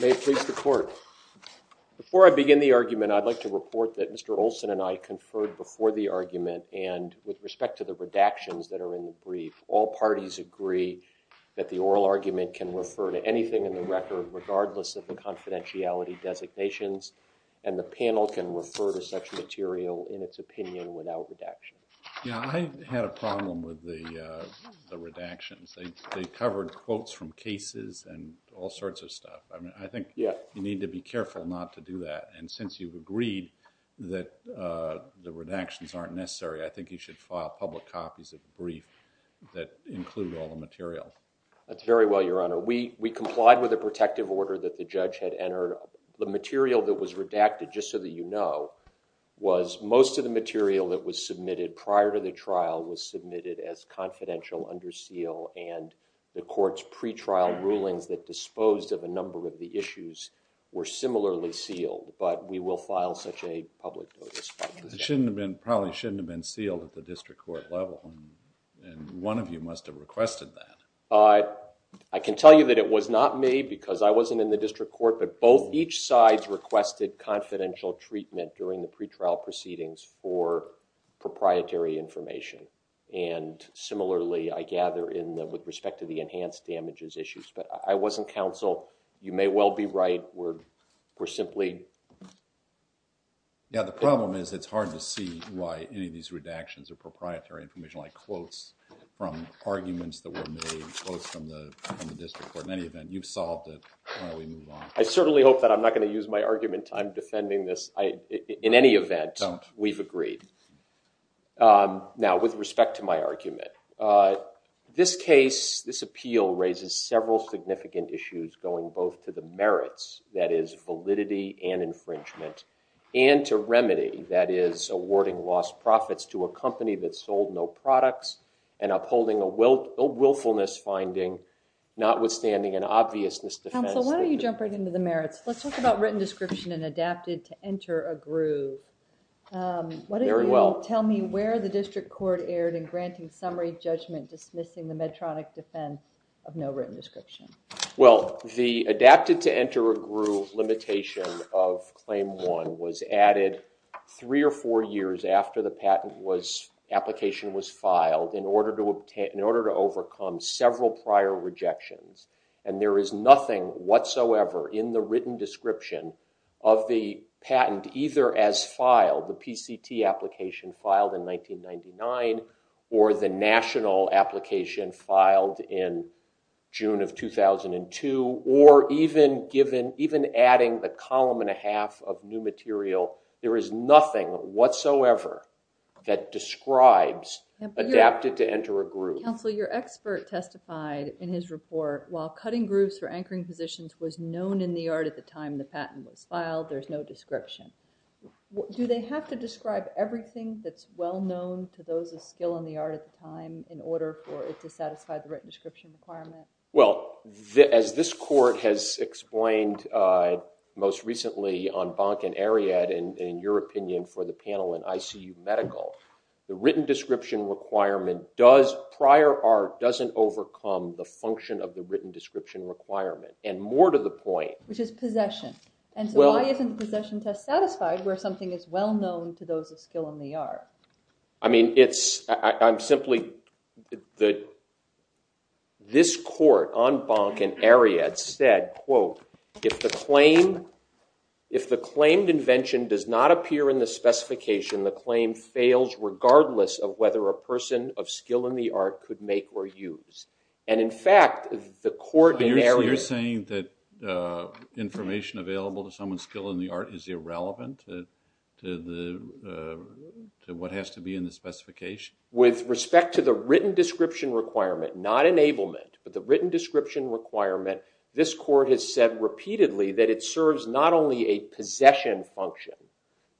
May it please the court. Before I begin the argument, I'd like to report that Mr. Olson and I conferred before the argument and with respect to the redactions that are in the brief, all parties agree that the oral argument can refer to anything in the record regardless of the confidentiality designations and the panel can refer to such material in its opinion without redaction. Yeah, I had a problem with the redactions. They covered quotes from cases and all sorts of stuff. I think you need to be careful not to do that. And since you've agreed that the redactions aren't necessary, I think you should file public copies of the brief that include all the material. That's very well, Your Honor. We complied with the protective order that the judge had entered. The material that was redacted, just so that you know, was most of the material that was submitted prior to the trial was submitted as confidential under seal and the court's pretrial rulings that disposed of a number of the issues were similarly sealed, but we will file such a public notice. It probably shouldn't have been sealed at the district court level and one of you must have requested that. I can tell you that it was not me because I wasn't in the district court, but both each side requested confidential treatment during the pretrial proceedings for proprietary information. And similarly, I gather with respect to the enhanced damages issues, but I wasn't counsel. You may well be right. We're simply Yeah, the problem is it's hard to see why any of these redactions are proprietary information like quotes from arguments that were made, quotes from the district court. In any event, you've solved it. Why don't we move on? I certainly hope that I'm not going to use my argument. I'm defending this. In any event, we've agreed. Now, with respect to my argument, this case, this appeal raises several significant issues going both to the merits that is validity and infringement and to remedy that is awarding lost profits to a company that sold no products and upholding a willfulness finding notwithstanding an obviousness defense. Why don't you jump right into the merits? Let's talk about written description and adapted to enter a group. Very well. Tell me where the district court erred in granting summary judgment, dismissing the Medtronic defense of no written description. Well, the adapted to enter a group limitation of claim one was added three or four years after the patent application was filed in order to overcome several prior rejections. And there is nothing whatsoever in the written description of the patent either as filed, the PCT application filed in 1999 or the national application filed in June of 2002 or even adding the column and a half of new material. There is nothing whatsoever that describes adapted to enter a group. Counsel, your expert testified in his report while cutting groups for anchoring positions was known in the art at the time the patent was filed, there's no description. Do they have to describe everything that's well known to those of skill in the art at the time in order for it to satisfy the written description requirement? Well, as this court has explained most recently on Bank and Ariadne in your opinion for the panel in ICU medical, the written description requirement does prior art doesn't overcome the function of the written description requirement and more to the point. Which is possession. And so why isn't possession test satisfied where something is well known to those of skill in the art? I mean, it's I'm simply that this court on Bank and Ariadne said, quote, if the claim if the claimed invention does not appear in the specification, the claim fails regardless of whether a person of skill in the art could make or use. You're saying that information available to someone skill in the art is irrelevant to what has to be in the specification? With respect to the written description requirement, not enablement, but the written description requirement, this court has said repeatedly that it serves not only a possession function,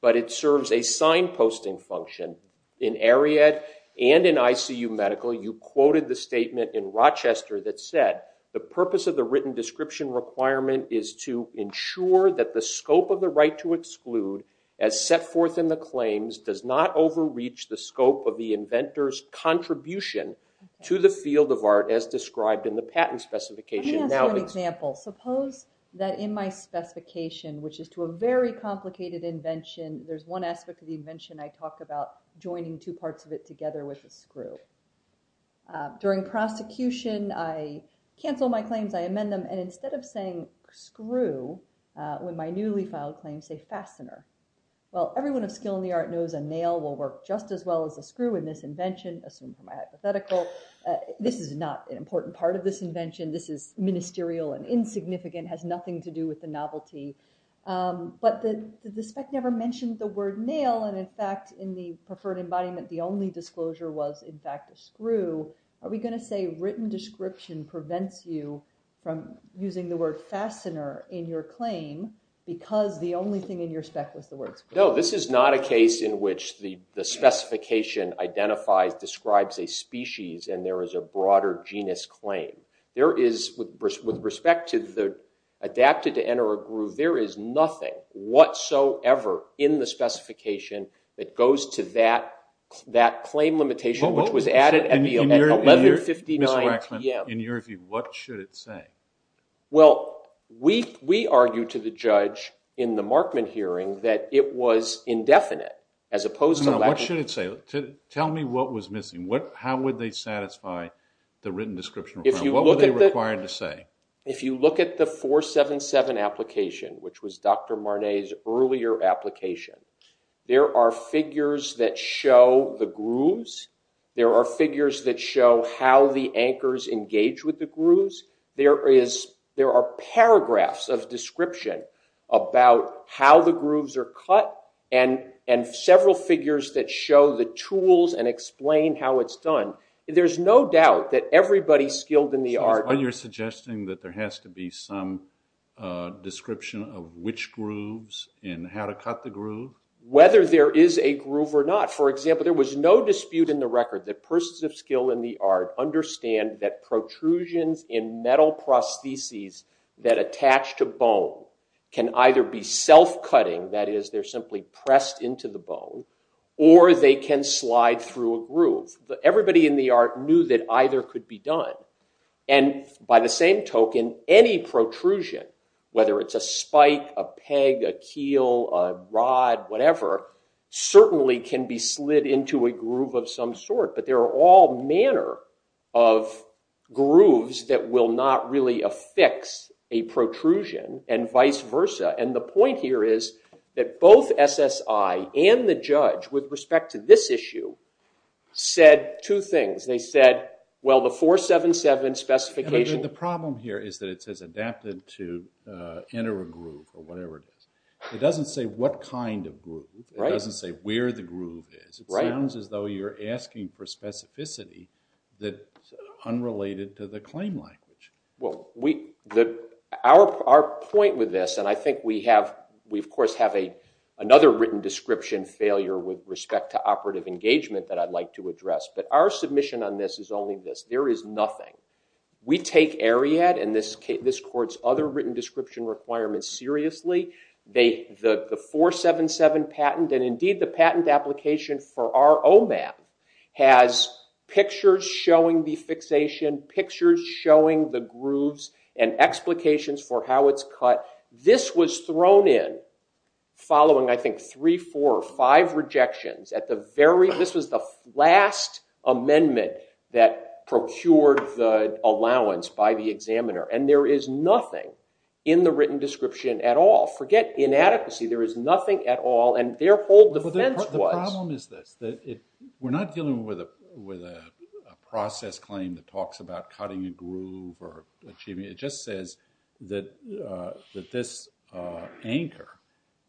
but it serves a signposting function. In Ariadne and in ICU medical, you quoted the statement in Rochester that said the purpose of the written description requirement is to ensure that the scope of the right to exclude as set forth in the claims does not overreach the scope of the inventor's contribution to the field of art as described in the patent specification. Let me ask you an example. Suppose that in my specification, which is to a very complicated invention, there's one aspect of the invention I talk about joining two parts of it together with a screw. During prosecution, I cancel my claims, I amend them, and instead of saying screw, when my newly filed claims say fastener. Well, everyone of skill in the art knows a nail will work just as well as a screw in this invention, assumed from a hypothetical. This is not an important part of this invention. This is ministerial and insignificant, has nothing to do with the novelty. But the spec never mentioned the word nail, and in fact, in the preferred embodiment, the only disclosure was in fact a screw. Are we going to say written description prevents you from using the word fastener in your claim because the only thing in your spec was the word screw? No, this is not a case in which the specification identifies, describes a species and there is a broader genus claim. With respect to the adapted to enter a groove, there is nothing whatsoever in the specification that goes to that claim limitation, which was added at 11.59 p.m. Mr. Waxman, in your view, what should it say? Well, we argue to the judge in the Markman hearing that it was indefinite as opposed to lack of... Now, what should it say? Tell me what was missing. How would they satisfy the written description requirement? What were they required to say? If you look at the 477 application, which was Dr. Marnay's earlier application, there are figures that show the grooves. There are figures that show how the anchors engage with the grooves. There are paragraphs of description about how the grooves are cut and several figures that show the tools and explain how it's done. There's no doubt that everybody skilled in the art... So you're suggesting that there has to be some description of which grooves and how to cut the groove? Whether there is a groove or not. For example, there was no dispute in the record that persons of skill in the art understand that protrusions in metal prostheses that attach to bone can either be self-cutting, that is, they're simply pressed into the bone, or they can slide through a groove. Everybody in the art knew that either could be done. And by the same token, any protrusion, whether it's a spike, a peg, a keel, a rod, whatever, certainly can be slid into a groove of some sort. But there are all manner of grooves that will not really affix a protrusion and vice versa. And the point here is that both SSI and the judge, with respect to this issue, said two things. They said, well, the 477 specification... The problem here is that it says adapted to enter a groove or whatever it is. It doesn't say what kind of groove. It doesn't say where the groove is. It sounds as though you're asking for specificity that's unrelated to the claim language. Our point with this, and I think we of course have another written description failure with respect to operative engagement that I'd like to address, but our submission on this is only this. There is nothing. We take Ariad and this court's other written description requirements seriously. The 477 patent, and indeed the patent application for our OMAP, has pictures showing the fixation, pictures showing the grooves, and explications for how it's cut. This was thrown in following, I think, three, four, five rejections. This was the last amendment that procured the allowance by the examiner. There is nothing in the written description at all. Forget inadequacy. There is nothing at all, and their whole defense was... The problem is this. We're not dealing with a process claim that talks about cutting a groove or achieving it. It just says that this anchor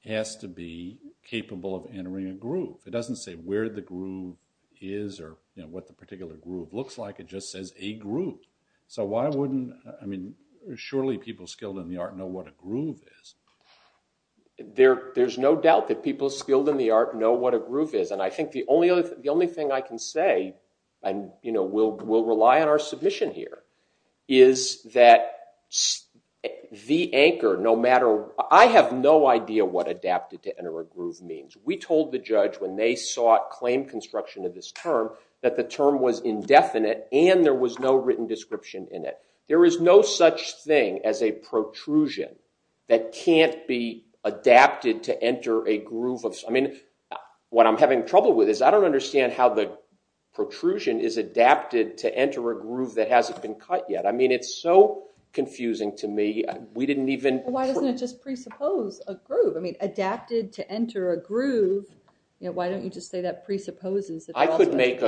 has to be capable of entering a groove. It doesn't say where the groove is or what the particular groove looks like. It just says a groove. So why wouldn't... I mean, surely people skilled in the art know what a groove is. There's no doubt that people skilled in the art know what a groove is, and I think the only thing I can say, and we'll rely on our submission here, is that the anchor, no matter... I have no idea what adapted to enter a groove means. We told the judge when they sought claim construction of this term that the term was indefinite and there was no written description in it. There is no such thing as a protrusion that can't be adapted to enter a groove. I mean, what I'm having trouble with is I don't understand how the protrusion is adapted to enter a groove that hasn't been cut yet. I mean, it's so confusing to me. We didn't even... Why doesn't it just presuppose a groove? I mean, adapted to enter a groove, why don't you just say that presupposes... I could make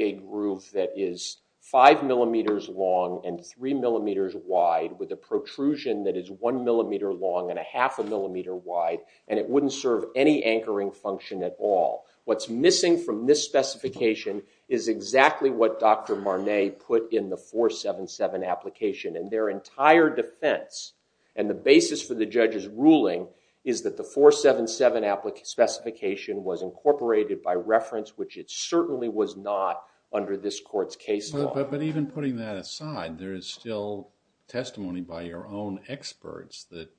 a groove that is five millimeters long and three millimeters wide with a protrusion that is one millimeter long and a half a millimeter wide, and it wouldn't serve any anchoring function at all. What's missing from this specification is exactly what Dr. Marnay put in the 477 application. In their entire defense, and the basis for the judge's ruling, is that the 477 specification was incorporated by reference, which it certainly was not under this court's case law. But even putting that aside, there is still testimony by your own experts that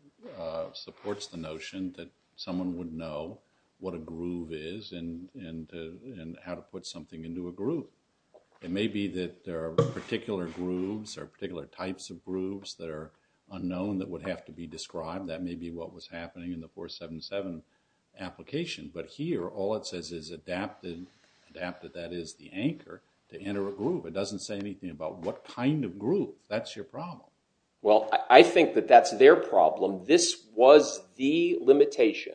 supports the notion that someone would know what a groove is and how to put something into a groove. It may be that there are particular grooves or particular types of grooves that are unknown that would have to be described. That may be what was happening in the 477 application. But here, all it says is adapted. Adapted, that is, the anchor to enter a groove. It doesn't say anything about what kind of groove. That's your problem. Well, I think that that's their problem. This was the limitation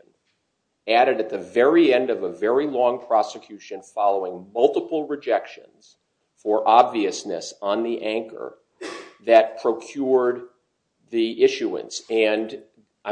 added at the very end of a very long prosecution following multiple rejections for obviousness on the anchor that procured the issuance. I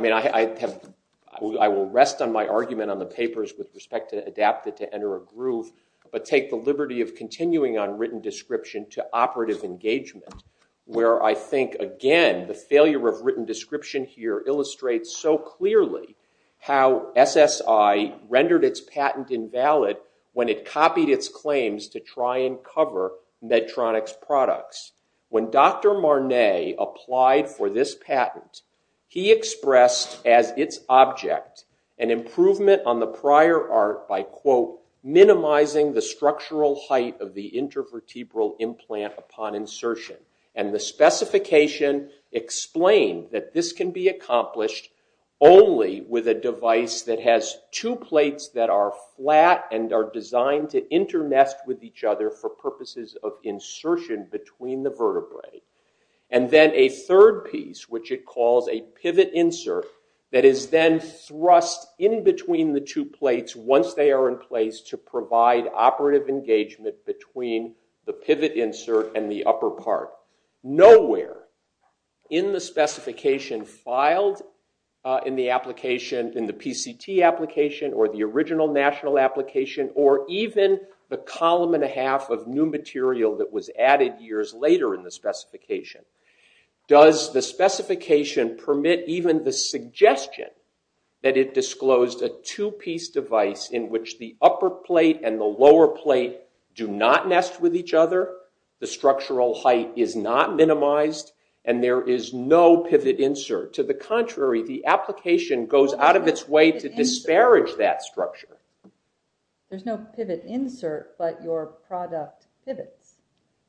will rest on my argument on the papers with respect to adapted to enter a groove, but take the liberty of continuing on written description to operative engagement, where I think, again, the failure of written description here illustrates so clearly how SSI rendered its patent invalid when it copied its claims to try and cover Medtronic's products. When Dr. Marnay applied for this patent, he expressed as its object an improvement on the prior art by, quote, minimizing the structural height of the intervertebral implant upon insertion. And the specification explained that this can be accomplished only with a device that has two plates that are flat and are designed to inter-nest with each other for purposes of insertion between the vertebrae. And then a third piece, which it calls a pivot insert, that is then thrust in between the two plates once they are in place to provide operative engagement between the pivot insert and the upper part. Nowhere in the specification filed in the application, in the PCT application, or the original national application, or even the column and a half of new material that was added years later in the specification, does the specification permit even the suggestion that it disclosed a two-piece device in which the upper plate and the lower plate do not nest with each other, the structural height is not minimized, and there is no pivot insert. To the contrary, the application goes out of its way to disparage that structure. There's no pivot insert, but your product pivots.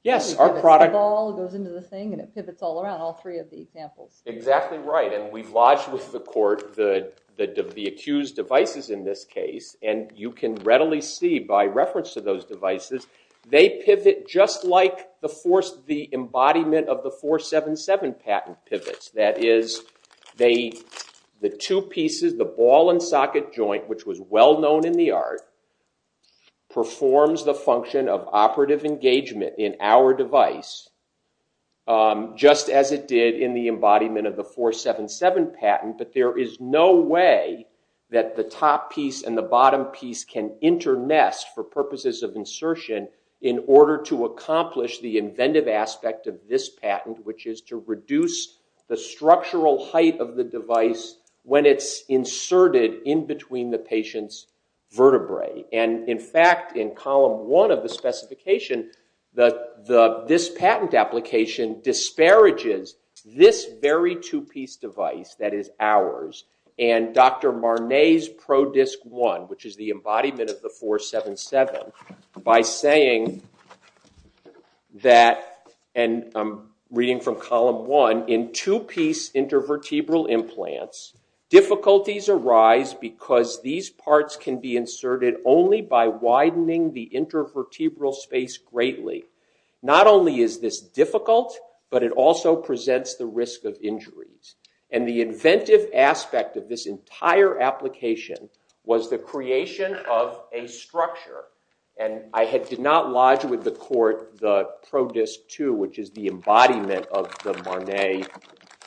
Yes, our product. It goes into the thing and it pivots all around, all three of the examples. Exactly right. And we've lodged with the court the accused devices in this case, and you can readily see by reference to those devices, they pivot just like the embodiment of the 477 patent pivots. That is, the two pieces, the ball and socket joint, which was well known in the art, performs the function of operative engagement in our device, just as it did in the embodiment of the 477 patent, but there is no way that the top piece and the bottom piece can internest for purposes of insertion in order to accomplish the inventive aspect of this patent, which is to reduce the structural height of the device when it's inserted in between the patient's vertebrae. In fact, in column one of the specification, this patent application disparages this very two-piece device that is ours and Dr. Marnay's ProDisc 1, which is the embodiment of the 477, by saying that, and I'm reading from column one, in two-piece intervertebral implants, difficulties arise because these parts can be inserted only by widening the intervertebral space greatly. Not only is this difficult, but it also presents the risk of injuries. And the inventive aspect of this entire application was the creation of a structure, and I did not lodge with the court the ProDisc 2, which is the embodiment of the Marnay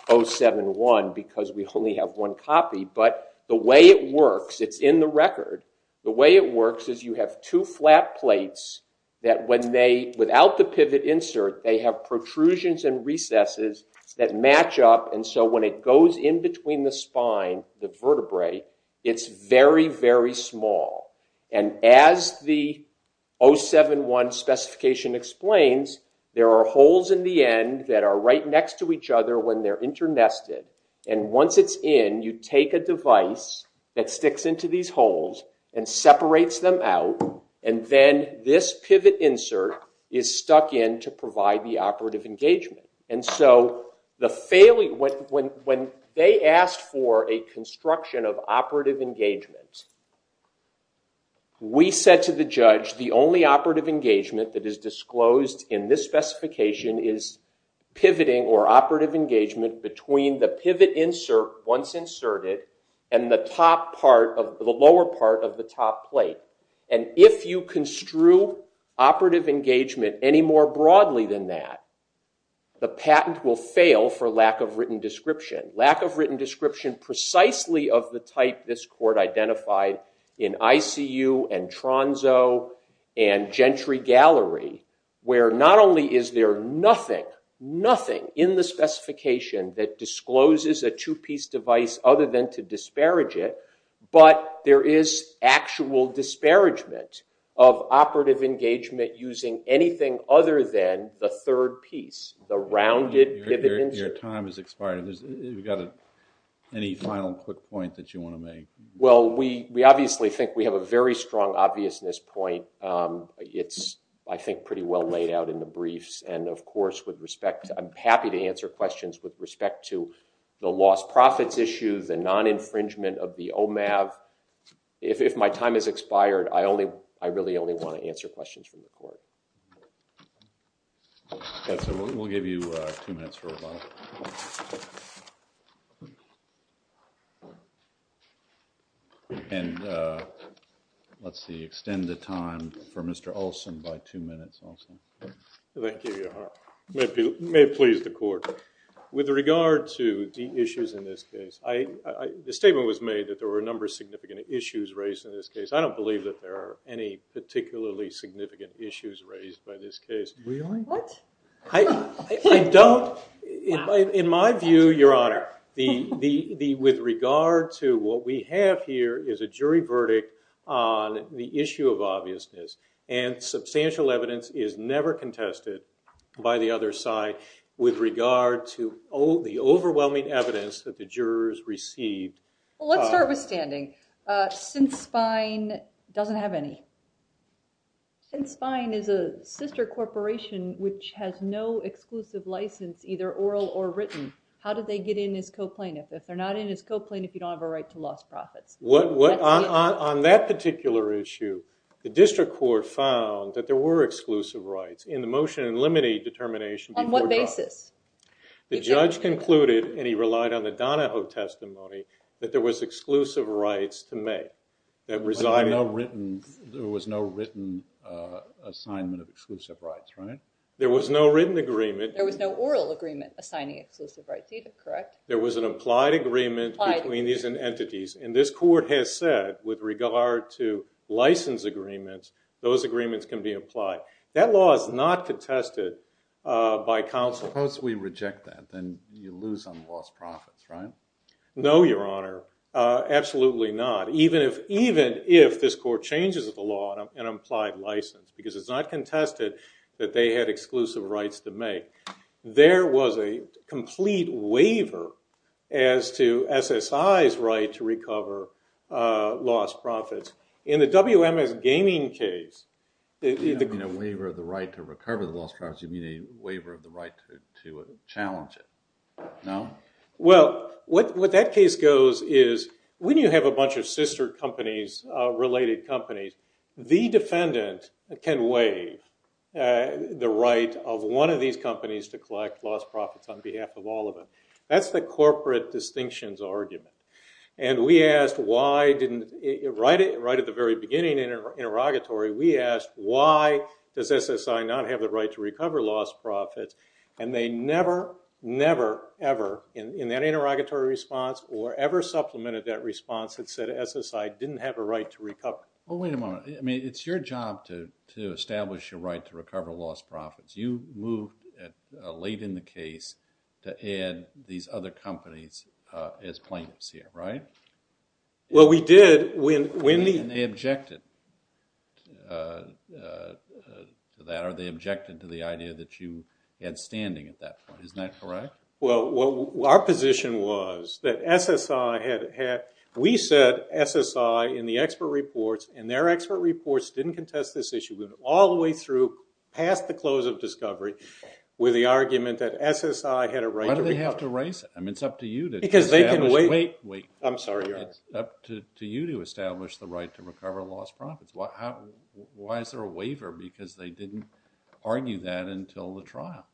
071, because we only have one copy, but the way it works, it's in the record, the way it works is you have two flat plates that when they, without the pivot insert, they have protrusions and recesses that match up, and so when it goes in between the spine, the vertebrae, it's very, very small. And as the 071 specification explains, there are holes in the end that are right next to each other when they're internested, and once it's in, you take a device that sticks into these holes and separates them out, and then this pivot insert is stuck in to provide the operative engagement. And so when they asked for a construction of operative engagement, we said to the judge, the only operative engagement that is disclosed in this specification is pivoting, or operative engagement, between the pivot insert once inserted and the lower part of the top plate. And if you construe operative engagement any more broadly than that, the patent will fail for lack of written description. Lack of written description precisely of the type this court identified in ICU and Tronzo and Gentry Gallery, where not only is there nothing, nothing in the specification that discloses a two-piece device other than to disparage it, but there is actual disparagement of operative engagement using anything other than the third piece, the rounded pivot insert. Your time has expired. You've got any final quick point that you want to make? Well, we obviously think we have a very strong obviousness point. It's, I think, pretty well laid out in the briefs. And of course, with respect to, I'm happy to answer questions with respect to the lost profits issue, the non-infringement of the OMAV. If my time has expired, I really only want to answer questions from the court. Yes, sir. We'll give you two minutes for rebuttal. And let's see, extend the time for Mr. Olson by two minutes, Olson. Thank you, Your Honor. It may please the court. With regard to the issues in this case, the statement was made that there were a number of significant issues raised in this case. I don't believe that there are any particularly significant issues raised by this case. Really? I don't. In my view, Your Honor, with regard to what we have here is a jury verdict on the issue of obviousness. And substantial evidence is never contested by the other side with regard to the overwhelming evidence that the jurors received. Well, let's start with standing. Sinspine doesn't have any. Sinspine is a sister corporation which has no exclusive license, either oral or written. How did they get in as co-plaintiff? If they're not in as co-plaintiff, you don't have a right to lost profits. On that particular issue, the district court found that there were exclusive rights in the motion and limited determination before trial. On what basis? The judge concluded, and he relied on the Donahoe testimony, that there was exclusive rights to make. There was no written assignment of exclusive rights, right? There was no written agreement. There was no oral agreement assigning exclusive rights, either, correct? There was an applied agreement between these entities. And this court has said, with regard to license agreements, those agreements can be applied. That law is not contested by counsel. Suppose we reject that. Then you lose on lost profits, right? No, Your Honor. Absolutely not, even if this court changes the law on an implied license. Because it's not contested that they had exclusive rights to make. There was a complete waiver as to SSI's right to recover lost profits. In the WMS gaming case, it didn't mean a waiver of the right to recover the lost profits. You mean a waiver of the right to challenge it. No? Well, what that case goes is, when you have a bunch of sister companies, related companies, the defendant can waive the right of one of these companies to collect lost profits on behalf of all of them. That's the corporate distinctions argument. And we asked, why didn't it, right at the very beginning interrogatory, we asked, why does SSI not have the right to recover lost profits? And they never, never, ever, in that interrogatory response, or ever supplemented that response that said SSI didn't have a right to recover. Well, wait a moment. I mean, it's your job to establish your right to recover lost profits. You moved late in the case to add these other companies as plaintiffs here, right? Well, we did when the- And they objected to that. They objected to the idea that you had standing at that point. Isn't that correct? Well, our position was that SSI had had, we said SSI in the expert reports, and their expert reports didn't contest this issue. We went all the way through, past the close of discovery, with the argument that SSI had a right to recover. Why did they have to raise it? I mean, it's up to you to establish the right to recover lost profits. Why is there a waiver? Because they didn't argue that until the trial.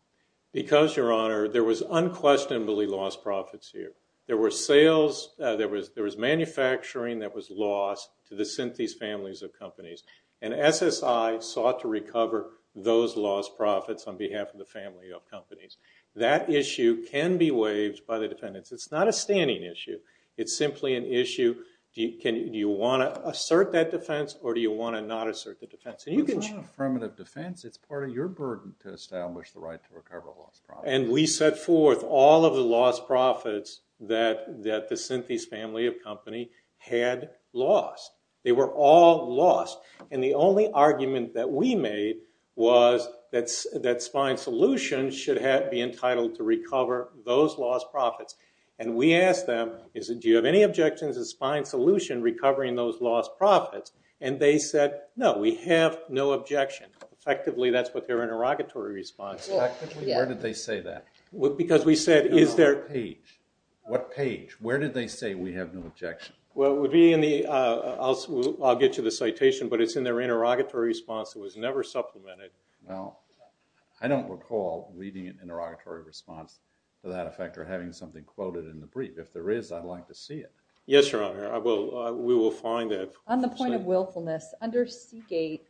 Because, Your Honor, there was unquestionably lost profits here. There was sales, there was manufacturing that was lost to the Synthese families of companies, and SSI sought to recover those lost profits on behalf of the family of companies. That issue can be waived by the defendants. It's not a standing issue. It's simply an issue, do you want to assert that defense, or do you want to not assert that defense? It's not an affirmative defense. It's part of your burden to establish the right to recover lost profits. And we set forth all of the lost profits that the Synthese family of company had lost. They were all lost. And the only argument that we made was that Spine Solutions should be entitled to recover those lost profits. And we asked them, do you have any objections to Spine Solutions recovering those lost profits? And they said, no, we have no objection. Effectively, that's what their interrogatory response is. Where did they say that? Because we said, is there a page? What page? Where did they say we have no objection? Well, it would be in the, I'll get you the citation, but it's in their interrogatory response. It was never supplemented. Well, I don't recall reading an interrogatory response to that effect, or having something quoted in the brief. If there is, I'd like to see it. Yes, Your Honor, we will find it. On the point of willfulness, under Seagate,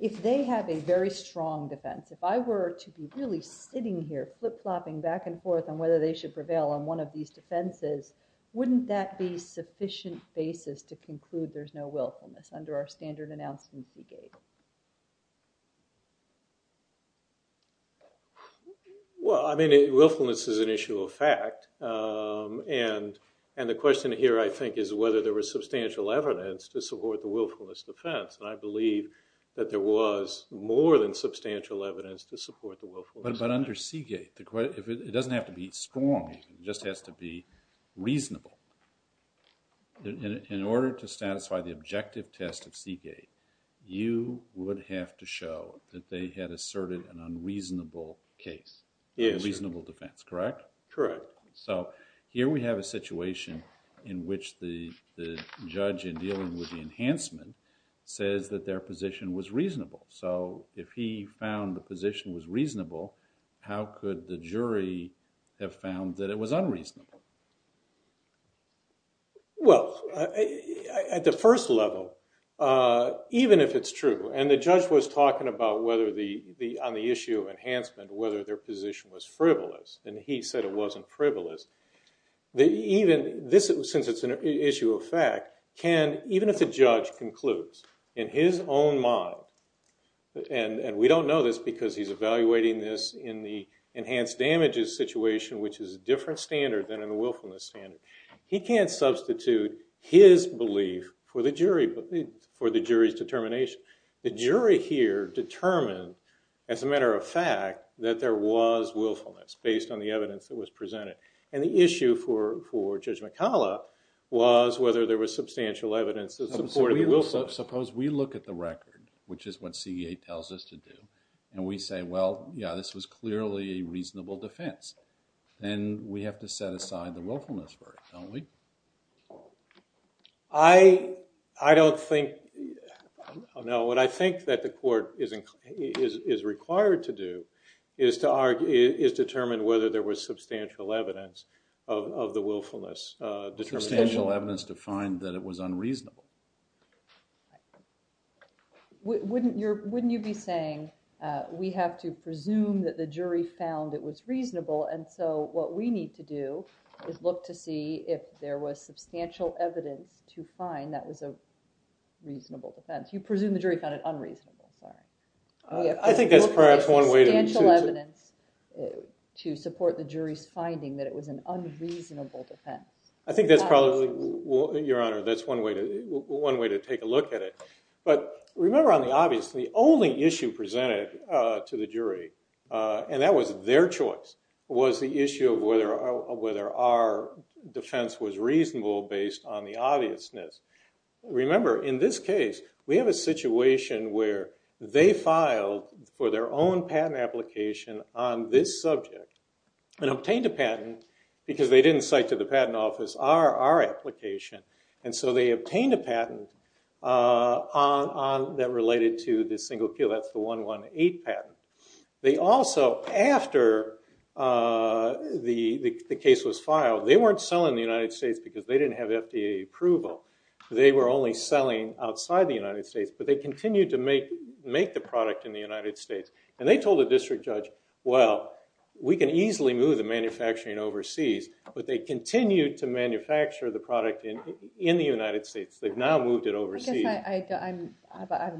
if they have a very strong defense, if I were to be really sitting here flip-flopping back and forth on whether they should prevail on one of these defenses, wouldn't that be sufficient basis to conclude there's no willfulness under our standard announcement in Seagate? Well, I mean, willfulness is an issue of fact. And the question here, I think, is whether there was substantial evidence to support the willfulness defense. And I believe that there was more than substantial evidence to support the willfulness defense. But under Seagate, it doesn't have to be strong. It just has to be reasonable. In order to satisfy the objective test of Seagate, you would have to show that they had asserted an unreasonable case, a reasonable defense, correct? Correct. So here we have a situation in which the judge, in dealing with the enhancement, says that their position was reasonable. So if he found the position was reasonable, how could the jury have found that it was unreasonable? Well, at the first level, even if it's true, and the judge was talking about, on the issue of enhancement, whether their position was frivolous. And he said it wasn't frivolous. Since it's an issue of fact, even if the judge concludes, in his own mind, and we don't know this because he's evaluating this in the enhanced damages situation, which is a different standard than in the willfulness standard, he can't substitute his belief for the jury's determination. The jury here determined, as a matter of fact, that there was willfulness, based on the evidence that was presented. And the issue for Judge McCollough was whether there was substantial evidence that supported the willfulness. Suppose we look at the record, which is what Seagate tells us to do, and we say, well, yeah, this was clearly a reasonable defense. Then we have to set aside the willfulness for it, don't we? I don't think. No, what I think that the court is required to do is determine whether there was substantial evidence of the willfulness. Substantial evidence to find that it was unreasonable. Wouldn't you be saying, we have to presume that the jury found it was reasonable, and so what we need to do is look to see if there was substantial evidence to find that was a reasonable defense. You presume the jury found it unreasonable. I think that's perhaps one way to choose it. To support the jury's finding that it was an unreasonable defense. I think that's probably, Your Honor, that's one way to take a look at it. But remember on the obvious, the only issue presented to the jury, and that was their choice, was the issue of whether our defense was reasonable based on the obviousness. Remember, in this case, we have a situation where they filed for their own patent application on this subject, and obtained a patent because they didn't cite to the patent office our application. And so they obtained a patent that related to this single field. That's the 118 patent. They also, after the case was filed, they weren't selling the United States because they didn't have FDA approval. They were only selling outside the United States, but they continued to make the product in the United States. And they told the district judge, well, we can easily move the manufacturing overseas, but they continued to manufacture the product in the United States. They've now moved it overseas. I'm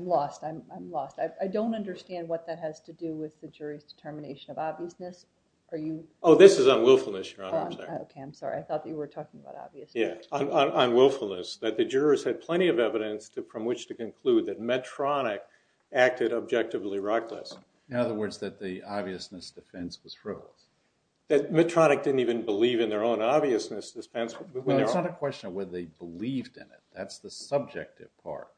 lost. I'm lost. I don't understand what that has to do with the jury's determination of obviousness. Oh, this is on willfulness, Your Honor. OK, I'm sorry. I thought that you were talking about obviousness. Yes, on willfulness. That the jurors had plenty of evidence from which to conclude that Medtronic acted objectively reckless. In other words, that the obviousness defense was false. That Medtronic didn't even believe in their own obviousness defense. Well, it's not a question of whether they believed in it. That's the subjective part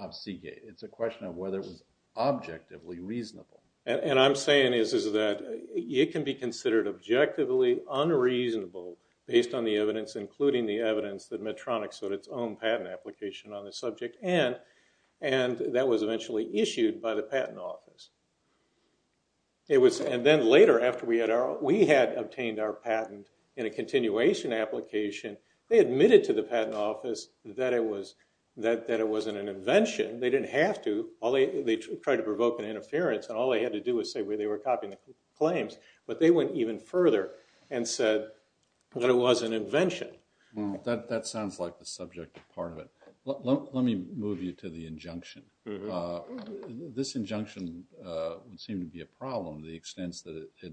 of Seagate. It's a question of whether it was objectively reasonable. And I'm saying is that it can be considered objectively unreasonable based on the evidence, including the evidence that Medtronic showed its own patent application on the subject. And that was eventually issued by the Patent Office. And then later, after we had obtained our patent in a continuation application, they admitted to the Patent Office that it wasn't an invention. They didn't have to. They tried to provoke an interference, and all they had to do was say they were copying the claims. But they went even further and said that it was an invention. That sounds like the subjective part of it. Let me move you to the injunction. This injunction seemed to be a problem to the extent that it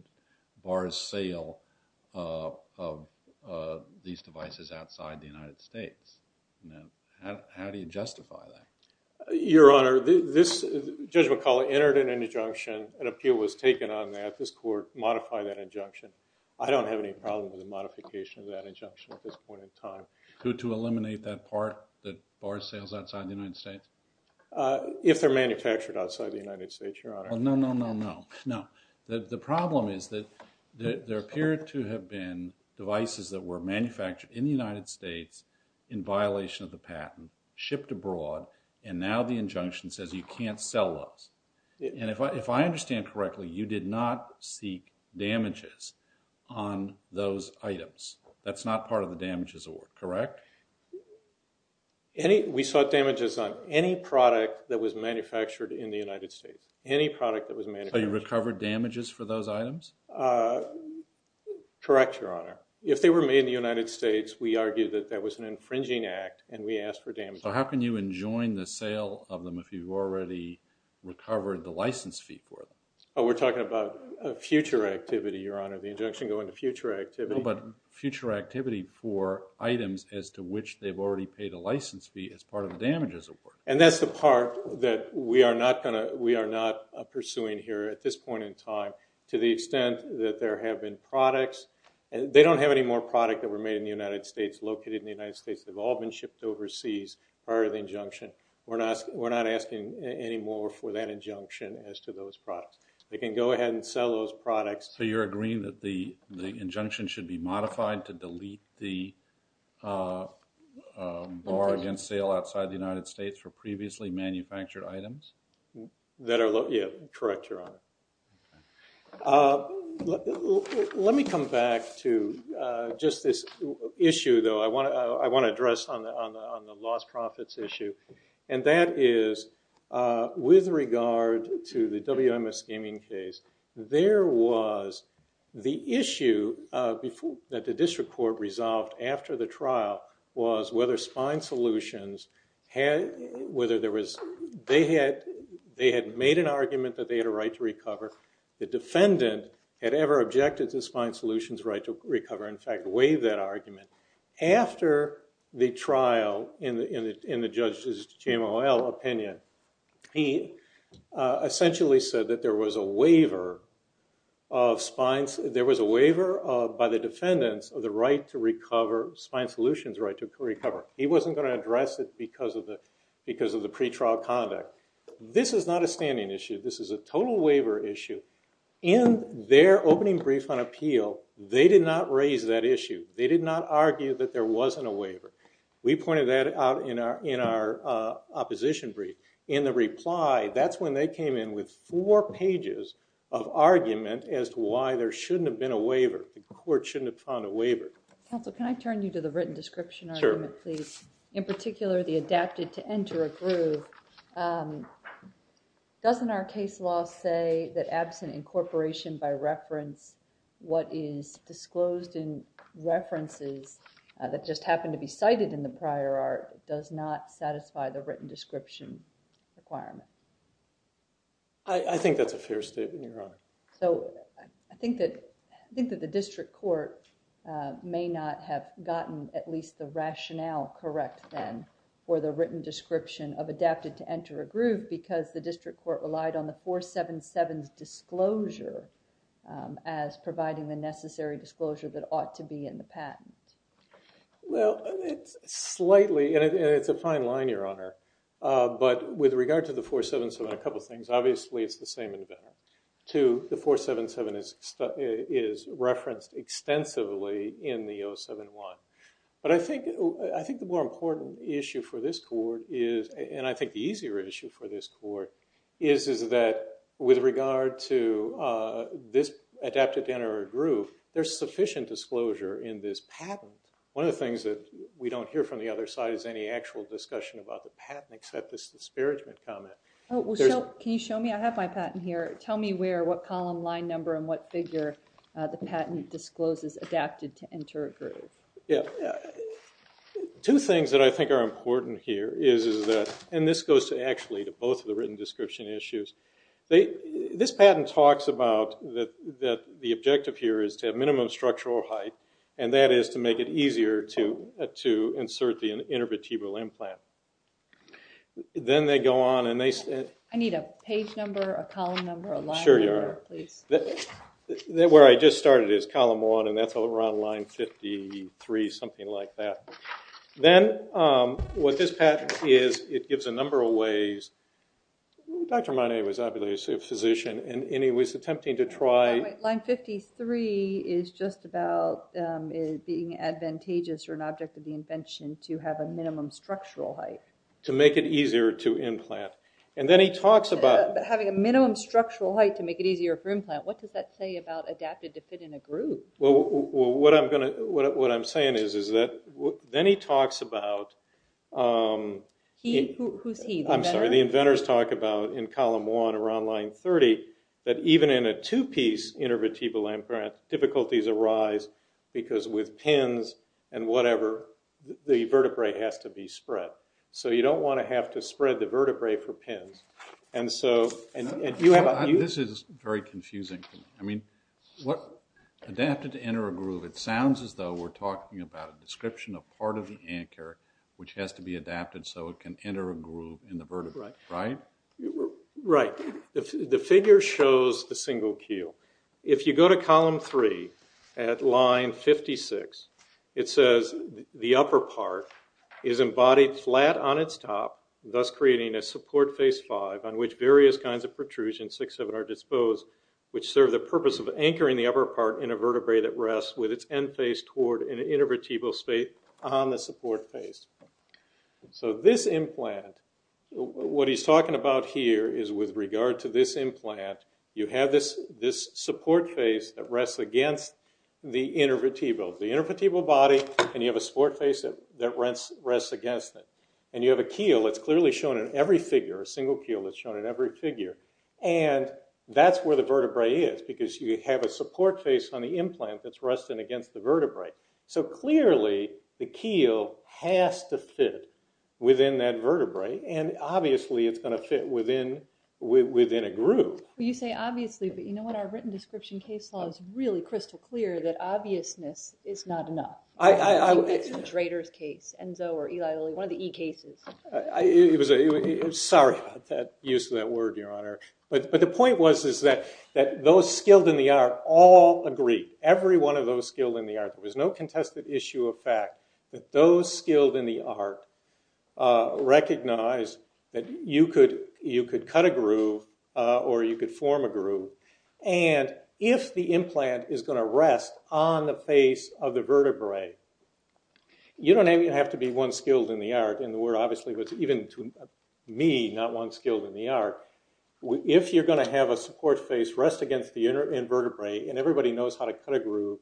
bars sale of these devices outside the United States. How do you justify that? Your Honor, Judge McCullough entered an injunction. An appeal was taken on that. This Court modified that injunction. I don't have any problem with the modification of that injunction at this point in time. Who to eliminate that part that bars sales outside the United States? If they're manufactured outside the United States, Your Honor. No, no, no, no. No. The problem is that there appeared to have been devices that were manufactured in the United States in violation of the patent, shipped abroad, and now the injunction says you can't sell those. And if I understand correctly, you did not seek damages on those items. That's not part of the damages award, correct? We sought damages on any product that was manufactured in the United States. Any product that was manufactured. So you recovered damages for those items? Correct, Your Honor. If they were made in the United States, we argue that that was an infringing act and we asked for damages. So how can you enjoin the sale of them if you've already recovered the license fee for them? Oh, we're talking about future activity, Your Honor. The injunction going to future activity. But future activity for items as to which they've already paid a license fee as part of the damages award. And that's the part that we are not pursuing here at this point in time to the extent that there have been products. They don't have any more product that were made in the United States, located in the United States. They've all been shipped overseas prior to the injunction. We're not asking any more for that injunction as to those products. They can go ahead and sell those products. So you're agreeing that the injunction should be modified to delete the bar against sale outside the United States for previously manufactured items? Correct, Your Honor. Let me come back to just this issue, though. I want to address on the lost profits issue. And that is, with regard to the WMS gaming case, the issue that the district court resolved after the trial was whether Spine Solutions had made an argument that they had a right to recover. The defendant had ever objected to Spine Solutions' right to recover. In fact, waived that argument. After the trial, in the judge's JMOL opinion, he essentially said that there was a waiver by the defendants of the right to recover, Spine Solutions' right to recover. He wasn't going to address it because of the pretrial conduct. This is not a standing issue. This is a total waiver issue. In their opening brief on appeal, they did not raise that issue. They did not argue that there wasn't a waiver. We pointed that out in our opposition brief. In the reply, that's when they came in with four pages of argument as to why there shouldn't have been a waiver. The court shouldn't have found a waiver. Counsel, can I turn you to the written description argument, please? In particular, the adapted to enter a group. Doesn't our case law say that absent incorporation by reference, what is disclosed in references that just happen to be cited in the prior art, does not satisfy the written description requirement? I think that's a fair statement, Your Honor. So I think that the district court may not have gotten at least the rationale correct then for the written description of adapted to enter a group because the district court relied on the 477's disclosure as providing the necessary disclosure that ought to be in the patent. Well, it's slightly. And it's a fine line, Your Honor. But with regard to the 477, a couple of things. Obviously, it's the same in Venn. Two, the 477 is referenced extensively in the 071. But I think the more important issue for this court is, and I think the easier issue for this court, is that with regard to this adapted to enter a group, there's sufficient disclosure in this patent. One of the things that we don't hear from the other side is any actual discussion about the patent except this disparagement comment. Can you show me? I have my patent here. Tell me what column, line number, and what figure the patent discloses adapted to enter a group. Two things that I think are important here is that, and this goes actually to both of the written description issues. This patent talks about that the objective here is to have minimum structural height. And that is to make it easier to insert the intervertebral implant. Then they go on and they say. I need a page number, a column number, a line number, please. Where I just started is column one. And that's around line 53, something like that. Then what this patent is, it gives a number of ways. Dr. Monet was obviously a physician. And he was attempting to try. Line 53 is just about being advantageous or an object of the invention to have a minimum structural height. To make it easier to implant. And then he talks about. Having a minimum structural height to make it easier for implant. What does that say about adapted to fit in a group? What I'm saying is that. Then he talks about. Who's he? I'm sorry. The inventors talk about in column one around line 30. That even in a two-piece intervertebral implant, difficulties arise. Because with pins and whatever, the vertebrae has to be spread. So you don't want to have to spread the vertebrae for pins. And so. This is very confusing. I mean. Adapted to enter a groove. It sounds as though we're talking about. A description of part of the anchor. Which has to be adapted. So it can enter a groove in the vertebrae. Right? Right. The figure shows the single keel. If you go to column three. At line 56. It says. The upper part. Is embodied flat on its top. Thus creating a support face five. On which various kinds of protrusion. Six of it are disposed. Which serve the purpose of anchoring the upper part. In a vertebrae that rests with its end face. Toward an intervertebral space. On the support face. So this implant. What he's talking about here. Is with regard to this implant. You have this. This support face. That rests against. The intervertebral. The intervertebral body. And you have a support face. That rents. Rests against it. And you have a keel. That's clearly shown in every figure. A single keel. That's shown in every figure. And that's where the vertebrae is. Because you have a support face. On the implant. That's resting against the vertebrae. So clearly. The keel. Has to fit. Within that vertebrae. And obviously. It's going to fit within. Within a group. You say obviously. But you know what. Our written description case law. Is really crystal clear. That obviousness. Is not enough. It's Drader's case. Enzo or Eli Lilly. One of the E cases. It was a. Sorry. Use of that word. Your honor. But the point was. Is that. That those skilled in the art. All agree. Every one of those skilled in the art. There was no contested issue of fact. That those skilled in the art. Recognize. That you could. You could cut a groove. Or you could form a groove. And. If the implant. Is going to rest. On the face. Of the vertebrae. You don't even have to be. One skilled in the art. In the word. Obviously. Because even to. Me. Not one skilled in the art. If you're going to have a support face. Rest against the inner. In vertebrae. And everybody knows. How to cut a groove.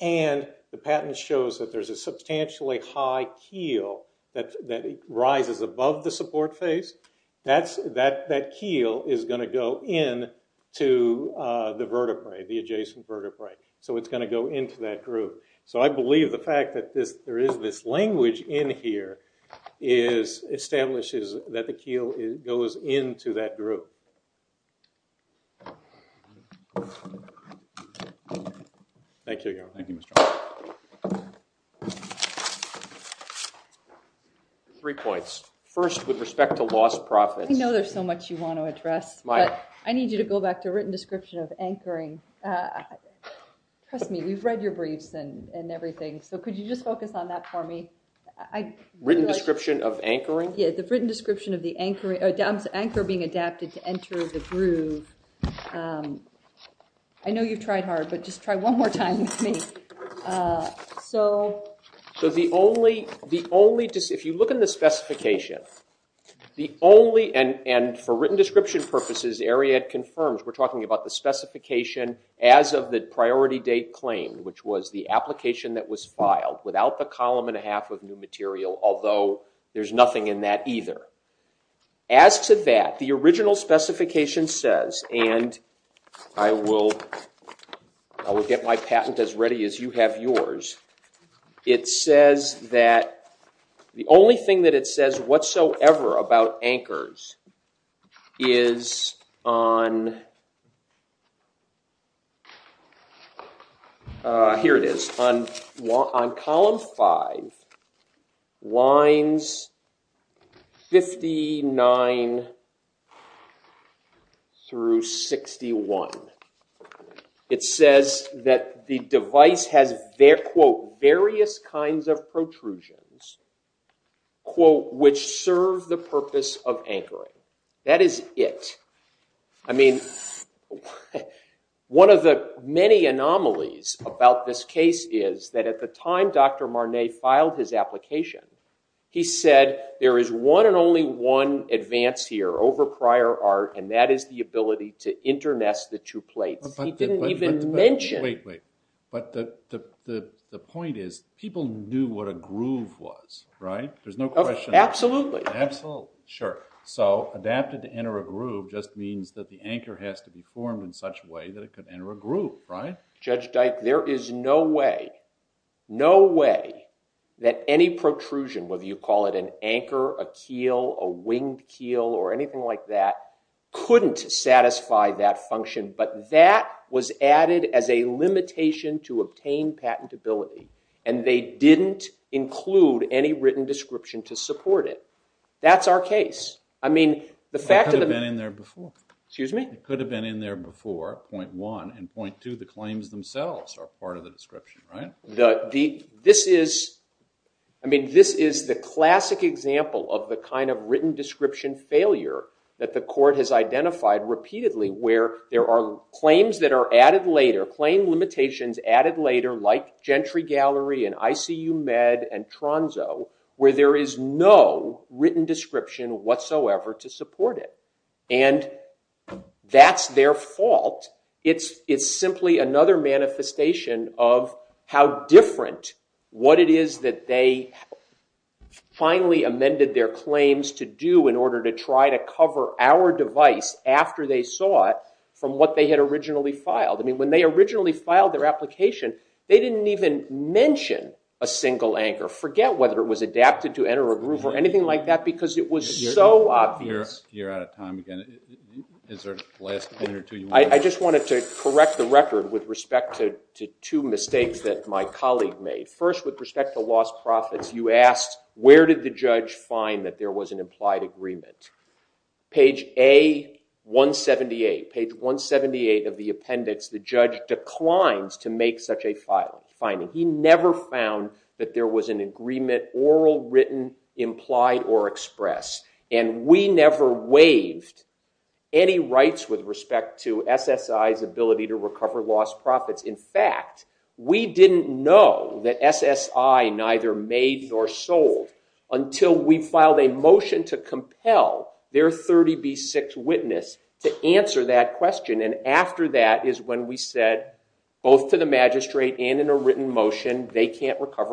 And. The patent shows. That there's a substantially. High keel. That. That. Rises above the support face. That's. That. That keel. Is going to go in. To. The vertebrae. The adjacent vertebrae. So it's going to go. Into that groove. So I believe the fact. That this. There is this language. In here. Is. Establishes. That the keel. Is. Goes into that group. Thank you. Thank you. Mr. Three points. First. With respect to. Lost profit. I know there's so much. You want to address. My. I need you to go back. To a written description. Of anchoring. Trust me. We've read your briefs. And everything. So could you just focus. On that for me. I. Richard. Description. Of anchoring. Yeah. The written description. Of the anchor. Adams. Anchor. Being adapted. To enter. The group. I know you've tried hard. But just try one more time. With me. So. So the only. The only. Just if you look. In the specification. The only. And and. For written description. Purposes area. Confirms we're talking. About the specification. As of the. Priority date. Claimed. Which was the application. That was filed. Without the column. And a half. Of new material. Although. There's nothing in that. Either. As to that. The original specification. Says. And. I will. I will. Get my patent. As ready. As you have. Yours. It says. That. The only thing. That it says. Whatsoever. About anchors. Is. On. Here. It is. On. On. On. In. Column. Five. Lines. Fifty. Nine. Through. Sixty. One. It says. That. The device. Has. Their. Quote. Various. Kinds. Of protrusions. Quote. Which serve. The purpose. Of anchoring. That is. It. I mean. One. Of the. Many. Anomalies. About. This. Case. Is. That. At. The time. Dr. Marnay. Filed. His. Application. He. Said. There. Is. One. And. Only. One. Advance. Here. Over. Prior. Art. And. That. Is. The ability. To. Intermess. The two. Plates. He. Didn't. Even. Mention. Wait. Wait. But. The. Point. Is. People. Knew. What a. Groove. Was. Right. There's. No question. Absolutely. Absolutely. Sure. So. Adapted. To enter. A groove. Just. Means. That. The. Anchor. Has. To. Be. Formed. In. Such. Way. That. It. Could. Enter. A. Groove. Right. Judge. Dyke. There. Is. No. Way. No. Way. That. Any. Limitation. To. Obtain. Patent. Ability. And. They. Didn't. Include. Any. Written. Description. To. Support. It. That's. Our. Case. I mean. The. Fact. Of. Them. In. There. Before. Point. One. And. But. The. This. Is. I mean. This. Is. The. Classic. Example. Of. The. Kind. Of. Written. Description. Failure. That. The. Court. Has. Identified. Repeatedly. Where. There. Are. Claims. That. Are. Different. What. It. Is. That. They. Finally. Amended. Their. Claims. To. Do. In. Order. To. Try. To. Cover. Our. Device. After. They. Saw. It. From. What. They. Had. Originally. Made. First. With. Respect. To. Lost. Profits. You. Asked. Where. Did. The. Judge. Find. That. There. Was. An. Implied. Agreement. Page. A. 178. Page. 178. Of. The. Appendix. The. Judge. Never. Found. That. There. Was. An. Agreement. Oral. Written. Implied. Or. Expressed. And. Never. Waived. Any. Rights. With. Respect. To. S. S. I's. Ability. To. Recover. Lost. Profits. In. Fact. We. Didn't. Know. That. S. S. I. Neither. Made. Nor. Sold. Until. We. Filed. A. Motion. To. Compel. Their. Thirty. B. Six. Witness. To. Answer. That. Is. A. Six. Motion. To. Compel. Their. Thirty. B. Six. Witness. To. Answer. That. Is. A. Motion. To. Compel. Their. Thirty. B. Six. Witness. To. Answer. That. Is. A. Motion. To. Compel. Their. Thirty. B. Sixty. A. Motion. To. Compel. Their. Thirty. Three. B. Sixty. Four.